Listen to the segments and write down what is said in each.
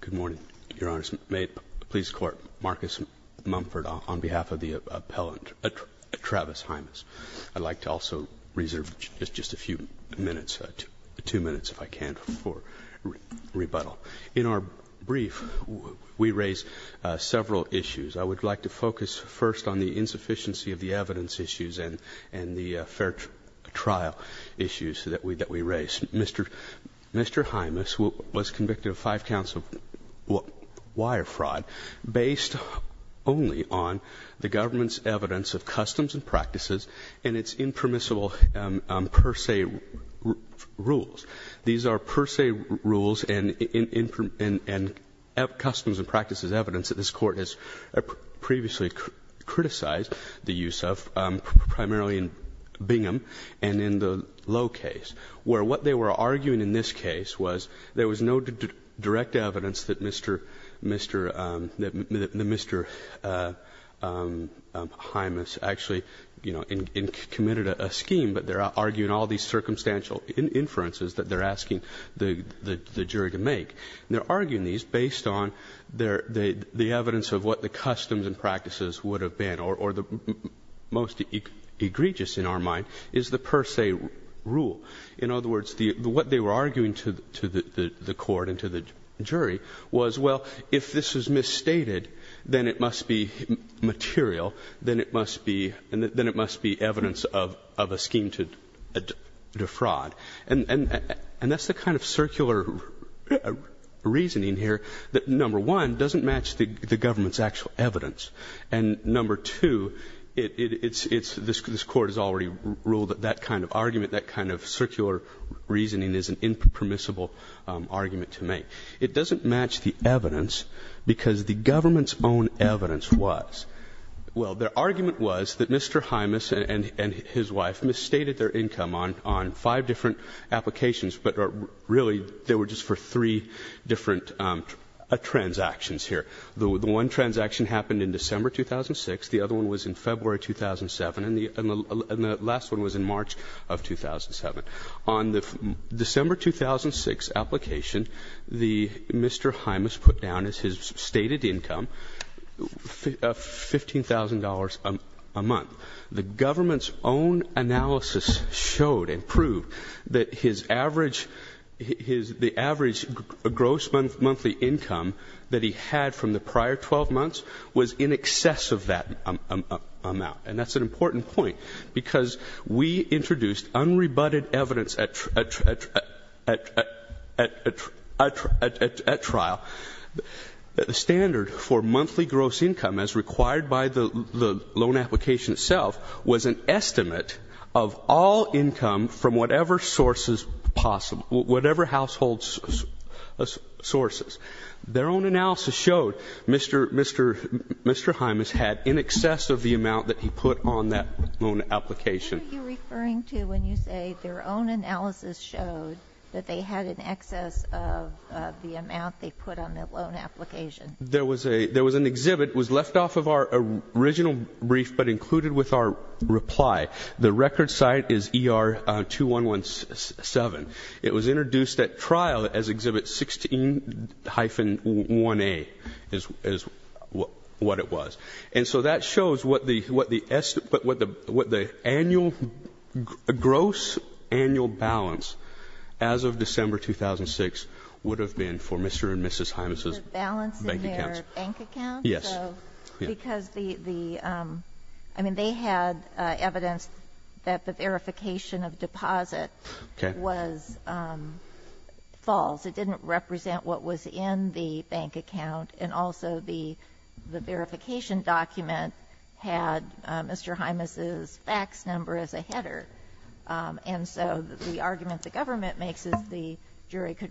Good morning, Your Honor. May it please the Court, Marcus Mumford on behalf of the appellant Travis Hymas. I'd like to also reserve just a few minutes, two minutes if I can, for rebuttal. In our brief, we raise several issues. I would like to focus first on the insufficiency of the evidence issues and the fair trial issues that we raise. Mr. Hymas was convicted of five counts of wire fraud based only on the government's evidence of customs and practices and its impermissible per se rules. These are per se rules and customs and practices as evidence that this Court has previously criticized the use of, primarily in Bingham and in the Lowe case, where what they were arguing in this case was there was no direct evidence that Mr. Hymas actually, you know, committed a scheme, but they're arguing all these circumstantial inferences that they're asking the jury to make. And they're arguing these based on their — the evidence of what the customs and practices would have been, or the most egregious, in our mind, is the per se rule. In other words, the — what they were arguing to the Court and to the jury was, well, if this was misstated, then it must be material, then it must be — then it must be evidence of a scheme to defraud. And that's the kind of circular rule that we're arguing here, that, number one, doesn't match the government's actual evidence. And, number two, it's — this Court has already ruled that that kind of argument, that kind of circular reasoning is an impermissible argument to make. It doesn't match the evidence because the government's own evidence was — well, their argument was that Mr. Hymas and his wife misstated their income on five different applications, but really they were just for three different transactions here. The one transaction happened in December 2006. The other one was in February 2007. And the last one was in March of 2007. On the December 2006 application, the — Mr. Hymas put down as his stated income $15,000 a month. The government's own analysis showed and proved that his wife misstated his average — his — the average gross monthly income that he had from the prior 12 months was in excess of that amount. And that's an important point, because we introduced unrebutted evidence at — at trial that the standard for monthly gross income as required by the — the loan application itself was an estimate of all income from whatever sources possible, whatever household sources. Their own analysis showed Mr. — Mr. Hymas had in excess of the amount that he put on that loan application. What are you referring to when you say their own analysis showed that they had in excess of the amount they put on that loan application? There was a — there was an exhibit. It was left off of our original brief, but included with our reply. The record site is ER-2117. It was introduced at trial as Exhibit 16-1A, is — is what it was. And so that shows what the — what the — what the annual — gross annual balance as of December 2006 would have been for Mr. and Mrs. Hymas' — Their balance in their bank account? Yes. Because the — I mean, they had evidence that the verification of deposit was false. It didn't represent what was in the bank account. And also, the verification document had Mr. Hymas' fax number as a header. And so the argument the government makes is the Mr.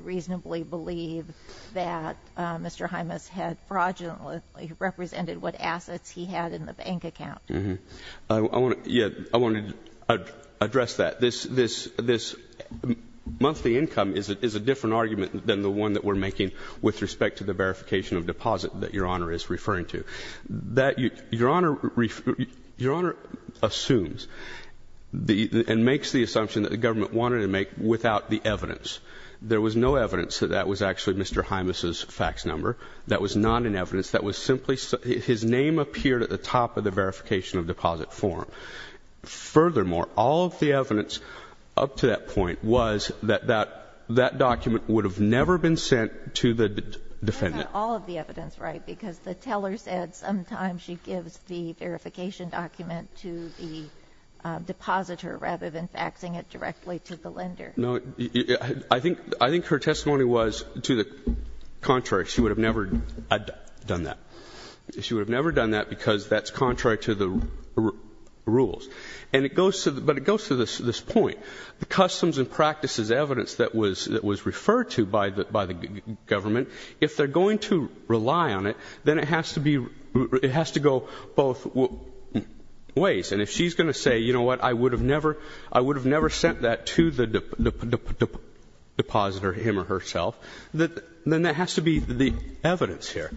Hymas had fraudulently represented what assets he had in the bank account. Mm-hmm. I want to — yeah, I want to address that. This — this — this monthly income is a different argument than the one that we're making with respect to the verification of deposit that Your Honor is referring to. That — Your Honor — Your Honor assumes the — and makes the assumption that the government wanted to make without the evidence. There was no evidence that that was actually Mr. Hymas' fax number. That was not in evidence. That was simply — his name appeared at the top of the verification of deposit form. Furthermore, all of the evidence up to that point was that that document would have never been sent to the defendant. That's not all of the evidence, right? Because the teller said sometimes she gives the verification document to the depositor rather than faxing it directly to the lender. No. I think — I think her testimony was to the contrary. She would have never done that. She would have never done that because that's contrary to the rules. And it goes to — but it goes to this point. The customs and practices evidence that was — that was referred to by the — by the government, if they're going to rely on it, then it has to be — it has to go both ways. And if she's going to say, you know what, I would have never — I would have never sent that to the depositor, him or herself, then that has to be the evidence here.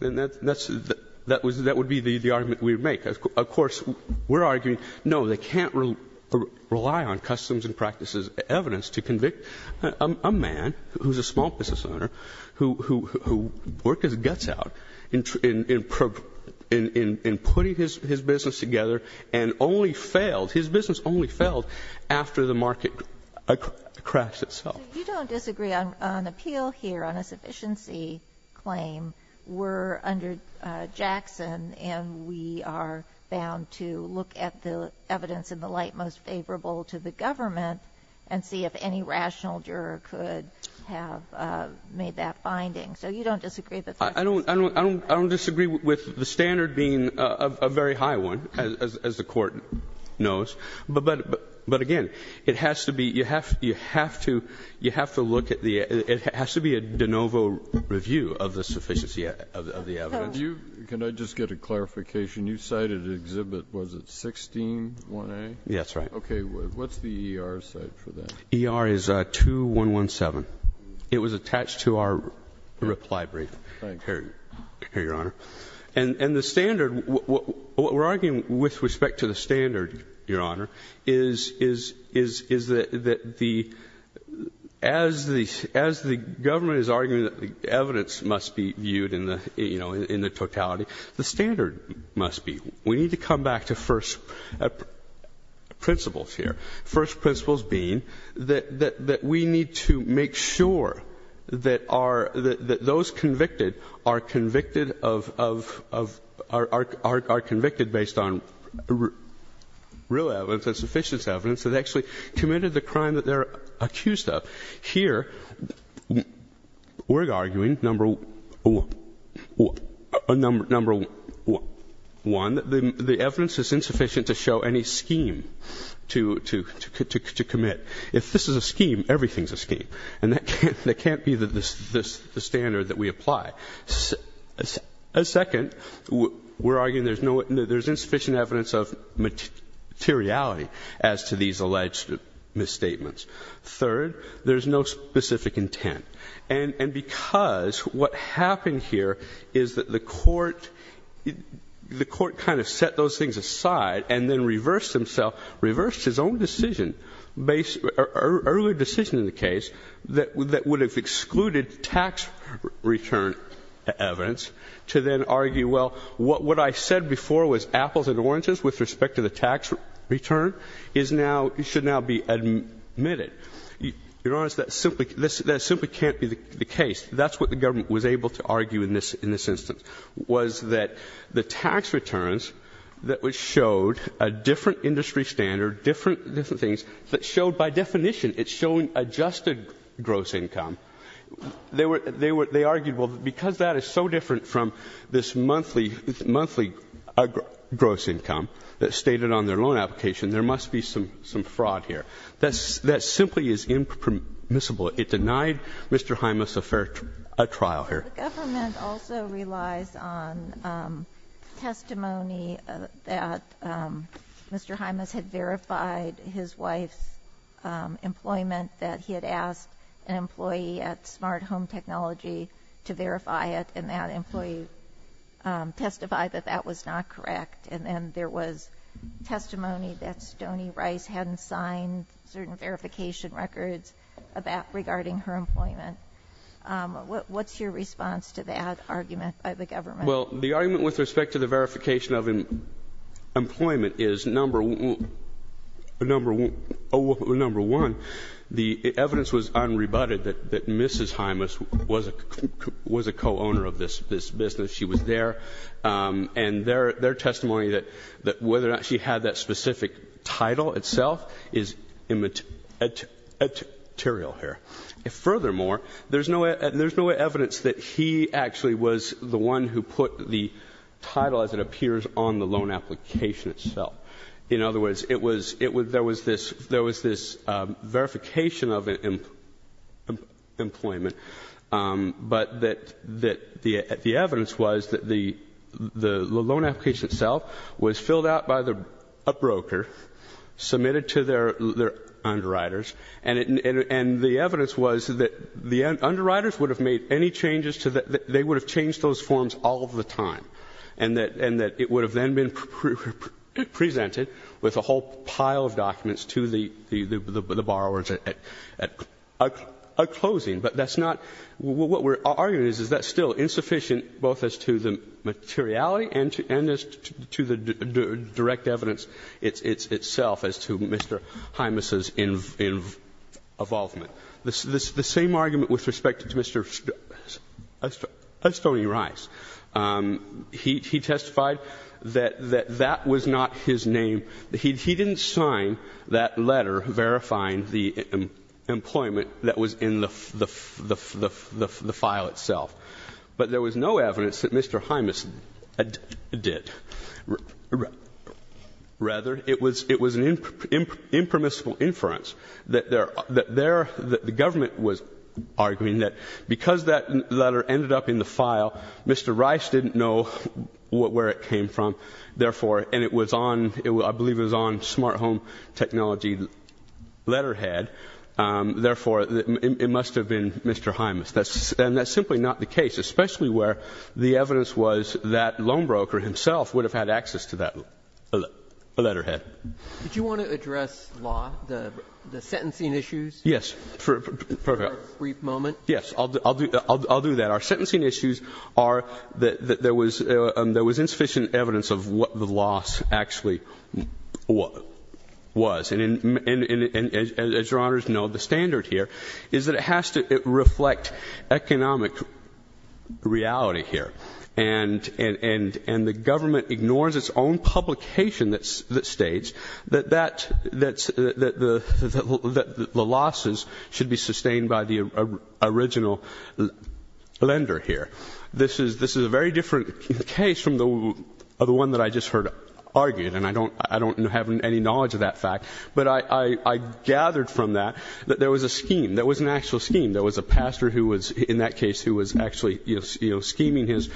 And that's — that would be the argument we would make. Of course, we're arguing, no, they can't rely on customs and practices evidence to convict a man who's a small business owner, who worked his guts out in putting his business together and only failed — his business only failed after the market crashed itself. So you don't disagree on appeal here, on a sufficiency claim. We're under Jackson, and we are bound to look at the evidence in the light most favorable to the government and see if any rational juror could have made that finding. So you don't disagree that that's — I don't disagree with the standard being a very high one, as the Court knows. But again, it has to be — you have to look at the — it has to be a de novo review of the sufficiency of the evidence. Can I just get a clarification? You cited an exhibit, was it 16-1A? That's right. Okay. What's the ER's site for that? ER is 2117. It was attached to our reply brief. Here, Your Honor. And the standard — what we're arguing with respect to the standard, Your Honor, is that the — as the government is arguing that the evidence must be viewed in the totality, the standard must be. We need to come back to first principles here. First principles being that we need to make sure that our — that those convicted are convicted of — are convicted based on real evidence and sufficient evidence that actually committed the crime that they're accused of. Here, we're arguing, number one, the evidence is insufficient to show any scheme to commit. If this is a scheme, everything's a scheme. And that can't be the standard that we apply. Second, we're arguing there's insufficient evidence of materiality as to these alleged misstatements. Third, there's no specific intent. And because what happened here is that the court — the court kind of set those things aside and then reversed himself, reversed his own decision — earlier decision in the case that would have excluded tax return evidence to then argue, well, what I said before was apples and oranges with respect to the tax return is now — should now be admitted. You're honest, that simply — that simply can't be the case. That's what the government was able to argue in this instance, was that the tax returns that showed a different industry standard, different things, that showed — by definition it's showing adjusted gross income. They argued, well, because that is so different from this monthly — monthly gross income that's stated on their loan application, there must be some — some fraud here. That's — that simply is impermissible. It denied Mr. Hymas a fair — a trial here. The government also relies on testimony that Mr. Hymas had verified his wife's employment, that he had asked an employee at Smart Home Technology to verify it, and that employee testified that that was not correct. And then there was testimony that Stoney Rice hadn't signed certain verification records about — regarding her employment. What's your response to that argument by the government? Well, the argument with respect to the verification of employment is number — number — oh, number one, the evidence was unrebutted that Mrs. Hymas was a co-owner of this business. She was there. And their testimony that whether or not she had that specific title itself is immaterial here. Furthermore, there's no evidence that he actually was the one who put the title, as it appears, on the loan application itself. In other words, it was — there was this — there was this verification of employment, but that — that the evidence was that the loan application itself was filled out by the — a broker, submitted to their underwriters, and the evidence was that the underwriters would have made any changes to the — they would have changed those forms all of the time, and that — and that it would have then been presented with a whole pile of documents to the — the borrowers at closing. But that's not — what we're arguing is, is that's still insufficient both as to the materiality and as to the direct evidence itself as to Mr. Hymas's involvement. The same argument with respect to Mr. Stoney Rice. He testified that that was not his name. He didn't sign that letter verifying the employment that was in the file itself. But there was no evidence that Mr. Hymas did. Rather, it was an impermissible inference that there — that there — that the government was arguing that because that letter ended up in the file, Mr. Rice didn't know where it came from. Therefore — and it was on — I believe it was on smart home technology letterhead. Therefore, it must have been Mr. Hymas. And that's simply not the case, especially where the evidence was that loan broker himself would have had access to that letterhead. Did you want to address law, the sentencing issues? Yes. Brief moment. Yes. I'll do — I'll do that. Our sentencing issues are that there was insufficient evidence of what the loss actually was. And as Your Honors know, the standard here is that it has to reflect economic reality here. And the government ignores its own publication that states that that — that the losses should be sustained by the original lender here. This is — this is a very different case from the one that I just heard argued. And I don't — I don't have any knowledge of that fact. But I gathered from that that there was a scheme. There was an actual scheme. There was a pastor who was, in that case, who was actually, you know, scheming his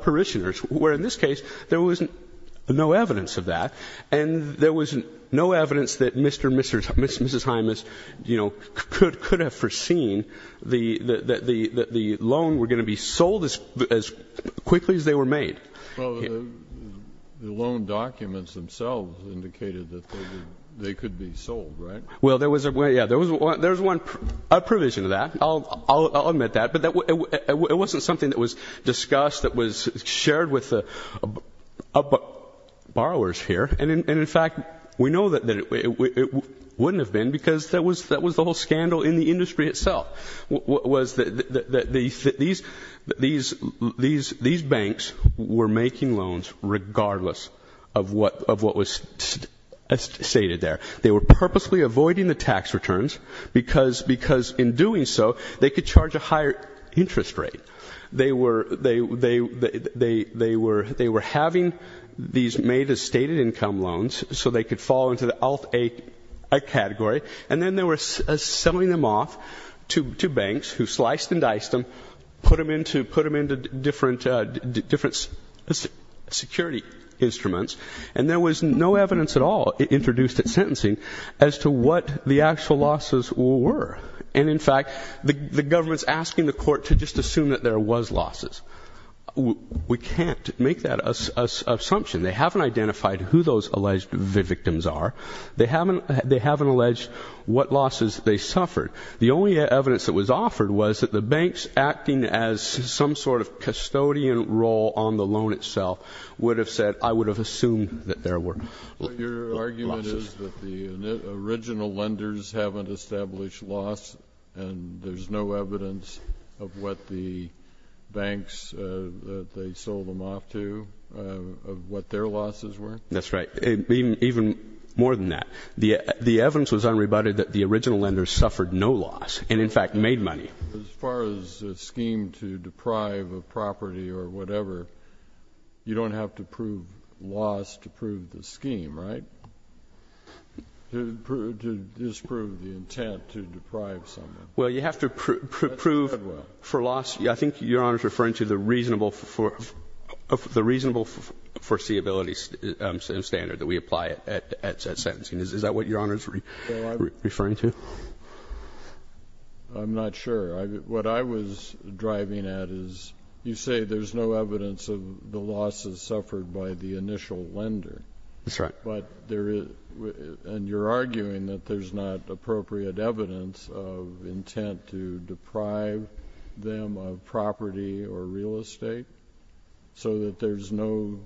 parishioners, where in this case, there was no evidence of that. And there was no evidence that Mr. — Mrs. Hymas, you know, could — could have foreseen the — that the loan were going to be sold as quickly as they were made. Well, the loan documents themselves indicated that they could be sold, right? Well, there was a — yeah, there was one — there was one — a provision of that. I'll — I'll admit that. But that — it wasn't something that was discussed, that was shared with the borrowers here. And in fact, we know that it wouldn't have been because that was — that was the whole scandal in the industry itself, was that these — these banks were making loans regardless of what — of what was stated there. They were purposely avoiding the tax returns because — because in doing so, they could charge a higher interest rate. They were — they — they — they — they were — they were having these made as stated income loans so they could fall into the ALF-A category. And then they were selling them off to — to banks who sliced and diced them, put them into — put them into different — different security instruments. And there was no evidence at all introduced at sentencing as to what the actual losses were. And in fact, the government's asking the court to just assume that there was losses. We can't make that assumption. They haven't identified who those alleged victims are. They haven't — they haven't alleged what losses they suffered. The only evidence that was offered was that the banks acting as some sort of custodian role on the loan itself would have said, I would have assumed that there were losses. Well, your argument is that the original lenders haven't established loss and there's no evidence of what the banks that they sold them off to — of what their losses were? That's right. Even — even more than that, the — the evidence was unrebutted that the original lenders suffered no loss and, in fact, made money. As far as a scheme to deprive a property or whatever, you don't have to prove loss to prove the scheme, right? To disprove the intent to deprive someone. Well, you have to prove for loss. I think Your Honor is referring to the reasonable — the reasonable foreseeability standard that we apply at sentencing. Is that what Your Honor is referring to? I'm not sure. What I was driving at is, you say there's no evidence of the losses suffered by the initial lender. That's right. But there is — and you're arguing that there's not appropriate evidence of intent to deprive them of property or real estate, so that there's no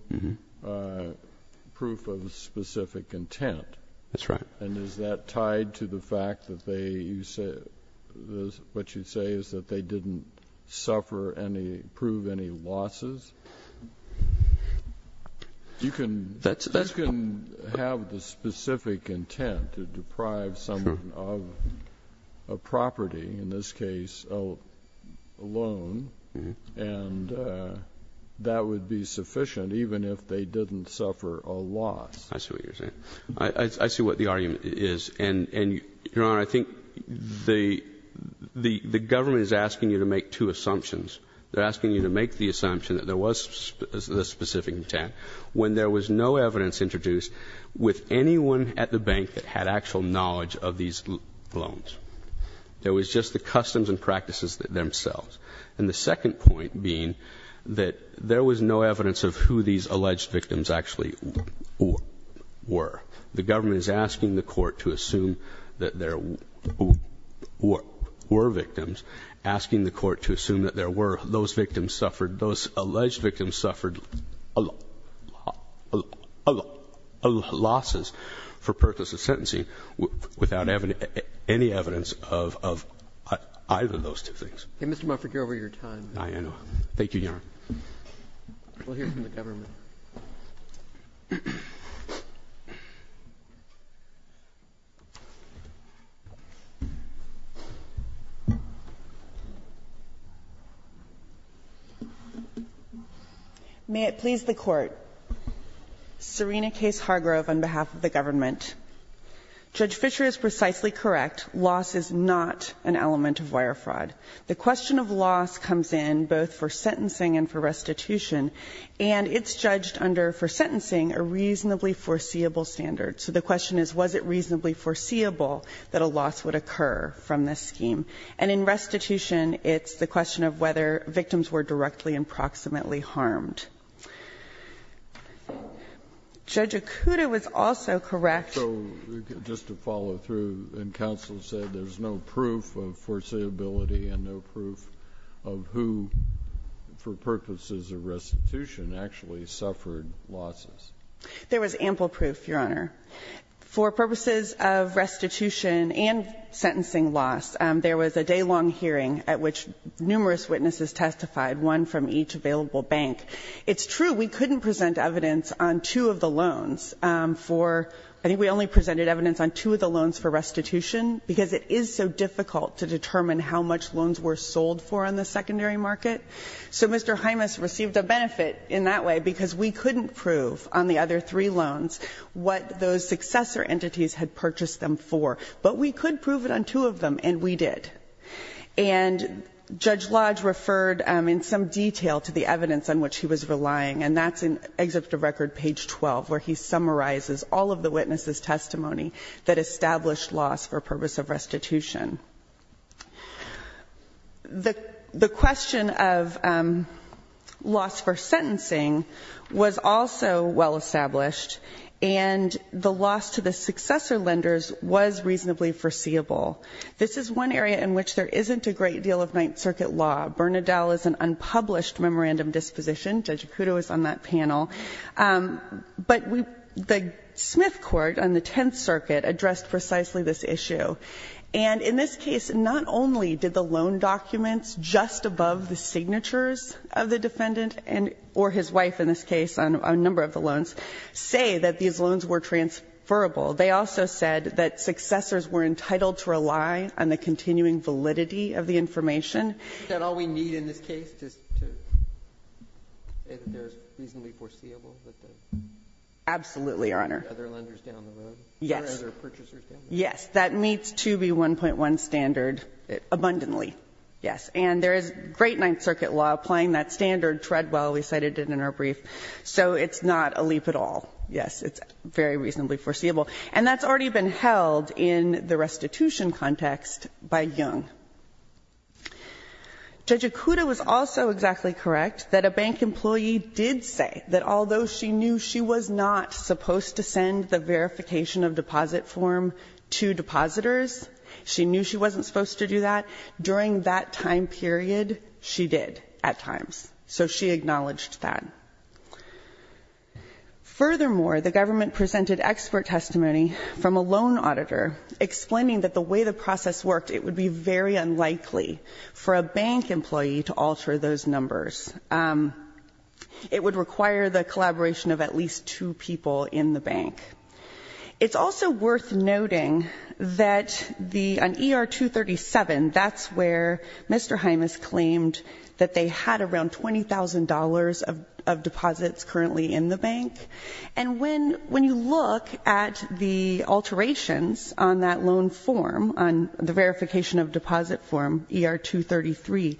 proof of specific intent. That's right. And is that tied to the fact that they — you say — what you say is that they didn't suffer any — prove any losses? You can — That's — You can have the specific intent to deprive someone of a property, in this case, a loan, and that would be sufficient, even if they didn't suffer a loss. I see what you're saying. I see what the argument is. And, Your Honor, I think the government is asking you to make two assumptions. They're asking you to make the assumption that there was specific intent, when there was no evidence introduced with anyone at the bank that had actual knowledge of these loans. There was just the customs and practices themselves. And the second point being that there was no evidence of who these alleged victims actually were. The government is asking the court to assume that there were victims, asking the court to assume that there were — those victims suffered — those alleged victims suffered losses for purposes of sentencing without any evidence of either of those two things. Mr. Mufford, you're over your time. I know. Thank you, Your Honor. We'll hear from the government. May it please the Court. Serena Case Hargrove, on behalf of the government. Judge Fisher is precisely correct. Loss is not an element of wire fraud. The question of loss comes in both for sentencing and for restitution. And it's judged under, for sentencing, a reasonably foreseeable standard. So the question is, was it reasonably foreseeable that a loss would occur from this scheme? And in restitution, it's the question of whether victims were directly and proximately harmed. Judge Okuda was also correct. So just to follow through, and counsel said there's no proof of foreseeability and no proof of who, for purposes of restitution, actually suffered losses. There was ample proof, Your Honor. For purposes of restitution and sentencing loss, there was a day-long hearing at which numerous witnesses testified, one from each available bank. It's true we couldn't present evidence on two of the loans for — I think we only presented evidence on two of the loans for restitution because it is so difficult to determine how much loans were sold for on the secondary market. So Mr. Hymas received a benefit in that way because we couldn't prove on the other three loans what those successor entities had purchased them for. But we could prove it on two of them, and we did. And Judge Lodge referred in some detail to the evidence on which he was relying, and that's in Exhibit of Record, page 12, where he summarizes all of the witnesses' testimony that established loss for purpose of restitution. The question of loss for sentencing was also well-established, and the loss to the successor lenders was reasonably foreseeable. This is one area in which there isn't a great deal of Ninth Circuit law. Bernadelle is an unpublished memorandum disposition. Judge Acuto is on that panel. But we — the Smith Court on the Tenth Circuit addressed precisely this issue. And in this case, not only did the loan documents just above the signatures of the defendant and — or his wife, in this case, on a number of the loans say that these loans were transferable. They also said that successors were entitled to rely on the continuing validity of the information. And all we need in this case is to say that there's reasonably foreseeable that the other lenders down the road or other purchasers down the road. Yes. Yes. That meets 2B1.1 standard abundantly, yes. And there is great Ninth Circuit law applying that standard. Treadwell, we cited it in our brief. So it's not a leap at all, yes. It's very reasonably foreseeable. And that's already been held in the restitution context by Young. Judge Acuto was also exactly correct that a bank employee did say that although she knew she was not supposed to send the verification of deposit form to depositors, she knew she wasn't supposed to do that. During that time period, she did at times. So she acknowledged that. Furthermore, the government presented expert testimony from a loan auditor explaining that the way the process worked, it would be very unlikely for a bank employee to alter those numbers. It would require the collaboration of at least two people in the bank. It's also worth noting that on ER 237, that's where Mr. Hymas claimed that they had around $20,000 of deposits currently in the bank. And when you look at the alterations on that loan form, on the verification of deposit form, ER 233,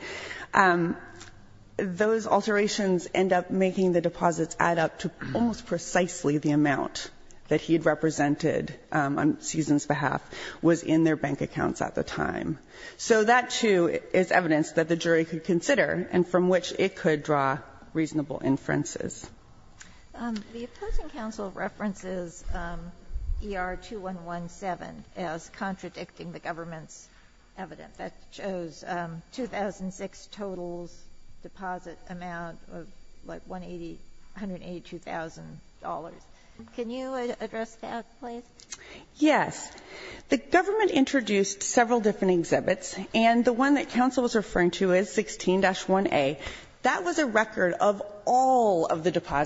those alterations end up making the deposits add up to almost precisely the amount that he had represented on Susan's behalf was in their bank accounts at the time. So that, too, is evidence that the jury could consider and from which it could draw reasonable inferences. The opposing counsel references ER 2117 as contradicting the government's evidence that shows 2006 totals deposit amount of like $182,000. Can you address that, please? Yes. The government introduced several different exhibits, and the one that counsel was referring to is 16-1A. That was a record of all of the exhibits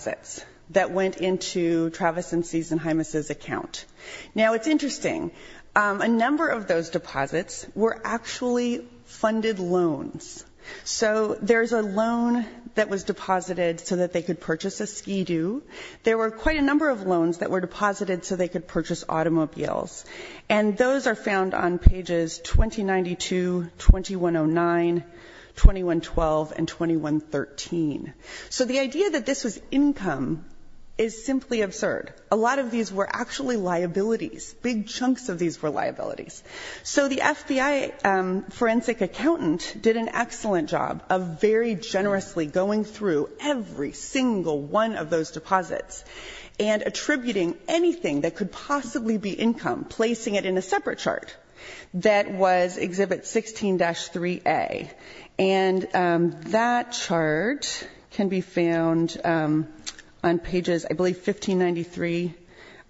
that the government had. That was a record of the deposits that went into Travis and Susan Hymas' account. Now, it's interesting. A number of those deposits were actually funded loans. So there's a loan that was deposited so that they could purchase a Ski-Doo. There were quite a number of loans that were deposited so they could purchase automobiles. And those are found on pages 2092, 2109, 2112, and 2113. So the idea that this was income is simply absurd. A lot of these were actually liabilities. Big chunks of these were liabilities. So the FBI forensic accountant did an excellent job of very generously going through every single one of those deposits and attributing anything that could possibly be income, placing it in a separate chart that was Exhibit 16-3A. And that chart can be found on pages, I believe, 1593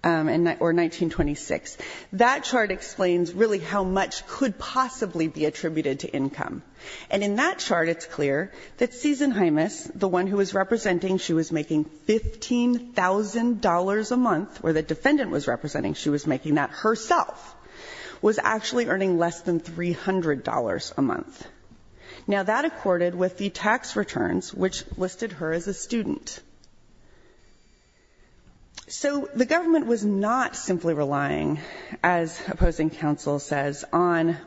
or 1926. That chart explains really how much could possibly be attributed to income. And in that chart, it's clear that Susan Hymas, the one who was representing, she was making $15,000 a month, or the defendant was representing, she was making that herself, was actually earning less than $300 a month. Now that accorded with the tax returns, which listed her as a student. So the government was not simply relying, as opposing counsel says, on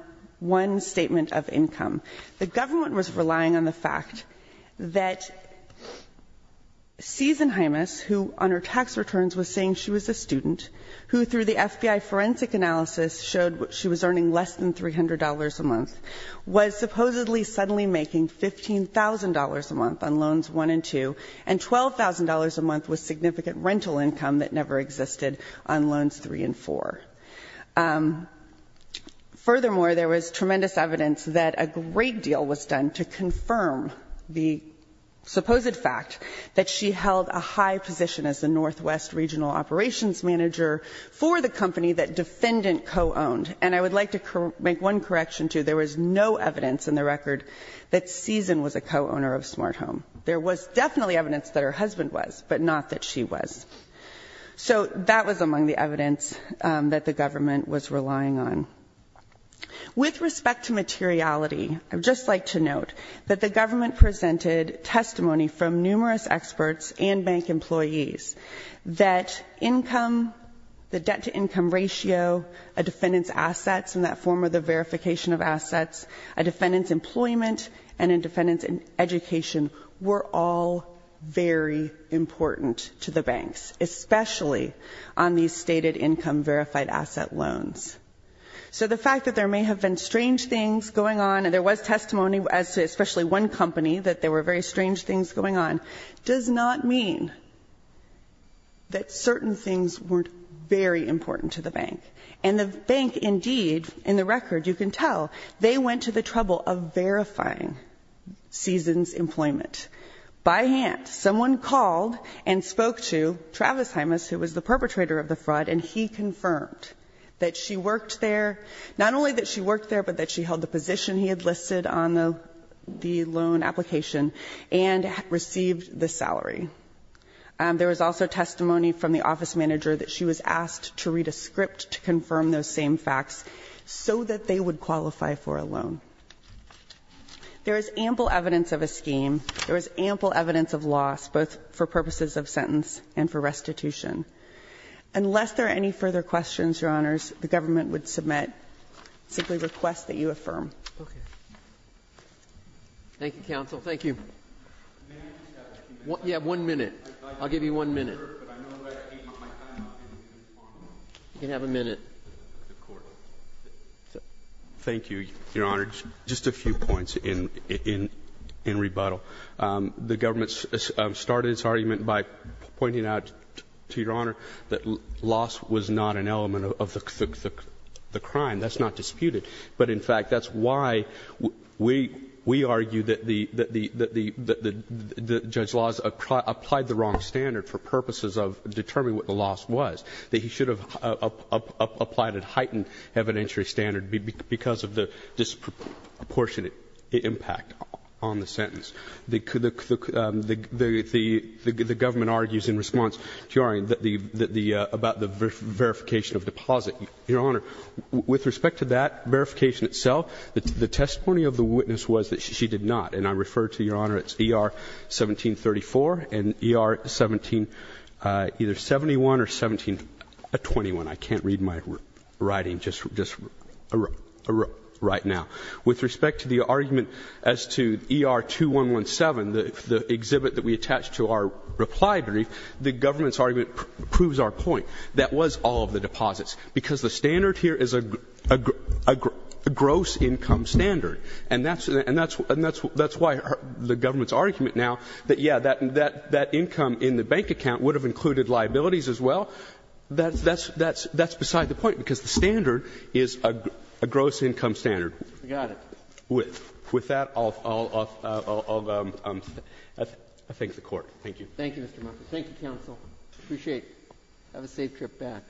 one statement of income. The government was relying on the fact that Susan Hymas, who on her tax returns was saying she was a student, who through the FBI forensic analysis showed she was earning less than $300 a month, was supposedly suddenly making $15,000 a month on Loans 1 and 2, and $12,000 a month was significant rental income that never existed on Loans 3 and 4. Furthermore, there was tremendous evidence that a great deal was done to confirm the supposed fact that she held a high position as the Northwest Regional Operations Manager for the company that defendant co-owned. And I would like to make one correction, too. There was no evidence in the record that Susan was a co-owner of Smart Home. There was definitely evidence that her husband was, but not that she was. So that was among the evidence that the government was relying on. With respect to materiality, I would just like to note that the government presented testimony from numerous experts and bank employees that income, the debt-to-income ratio, a defendant's assets in that form of the verification of assets, a defendant's employment, and a defendant's education were all very important to the banks, especially on these stated income verified asset loans. So the fact that there may have been strange things going on, and there was testimony as to especially one company that there were very strange things going on, does not mean that certain things weren't very important to the bank. And the bank indeed, in the record you can tell, they went to the trouble of verifying Susan's employment. By hand. Someone called and spoke to Travis Hymas, who was the perpetrator of the fraud, and he confirmed that she worked there, not only that she worked there, but that she held the position he had listed on the loan application and received the salary. There was also testimony from the office manager that she was asked to read a script to confirm those same facts so that they would qualify for a loan. There is ample evidence of a scheme. There is ample evidence of loss, both for purposes of sentence and for restitution. Unless there are any further questions, Your Honors, the government would submit, simply request that you affirm. Thank you, counsel. Thank you. You have one minute. I'll give you one minute. You can have a minute. Thank you, Your Honor. Just a few points in rebuttal. The government started its argument by pointing out, to Your Honor, that loss was not an element of the crime. That's not disputed. But in fact, that's why we argue that Judge Laws applied the wrong standard for purposes of determining what the loss was. That he should have applied a heightened evidentiary standard because of the disproportionate impact on the sentence. The government argues in response to your argument about the verification of deposit. Your Honor, with respect to that verification itself, the testimony of the witness was that she did not. And I refer to, Your Honor, it's ER 1734 and ER 17, either 71 or 1721. I can't read my writing just right now. With respect to the argument as to ER 2117, the exhibit that we attached to our reply brief, the government's argument proves our point. That was all of the deposits. Because the standard here is a gross income standard. And that's why the government's argument now that, yes, that income in the bank account would have included liabilities as well, that's beside the point, because the standard is a gross income standard. With that, I'll thank the Court. Thank you. Thank you, Mr. Muffitt. Thank you, counsel. I appreciate it. Have a safe trip back. Thank you.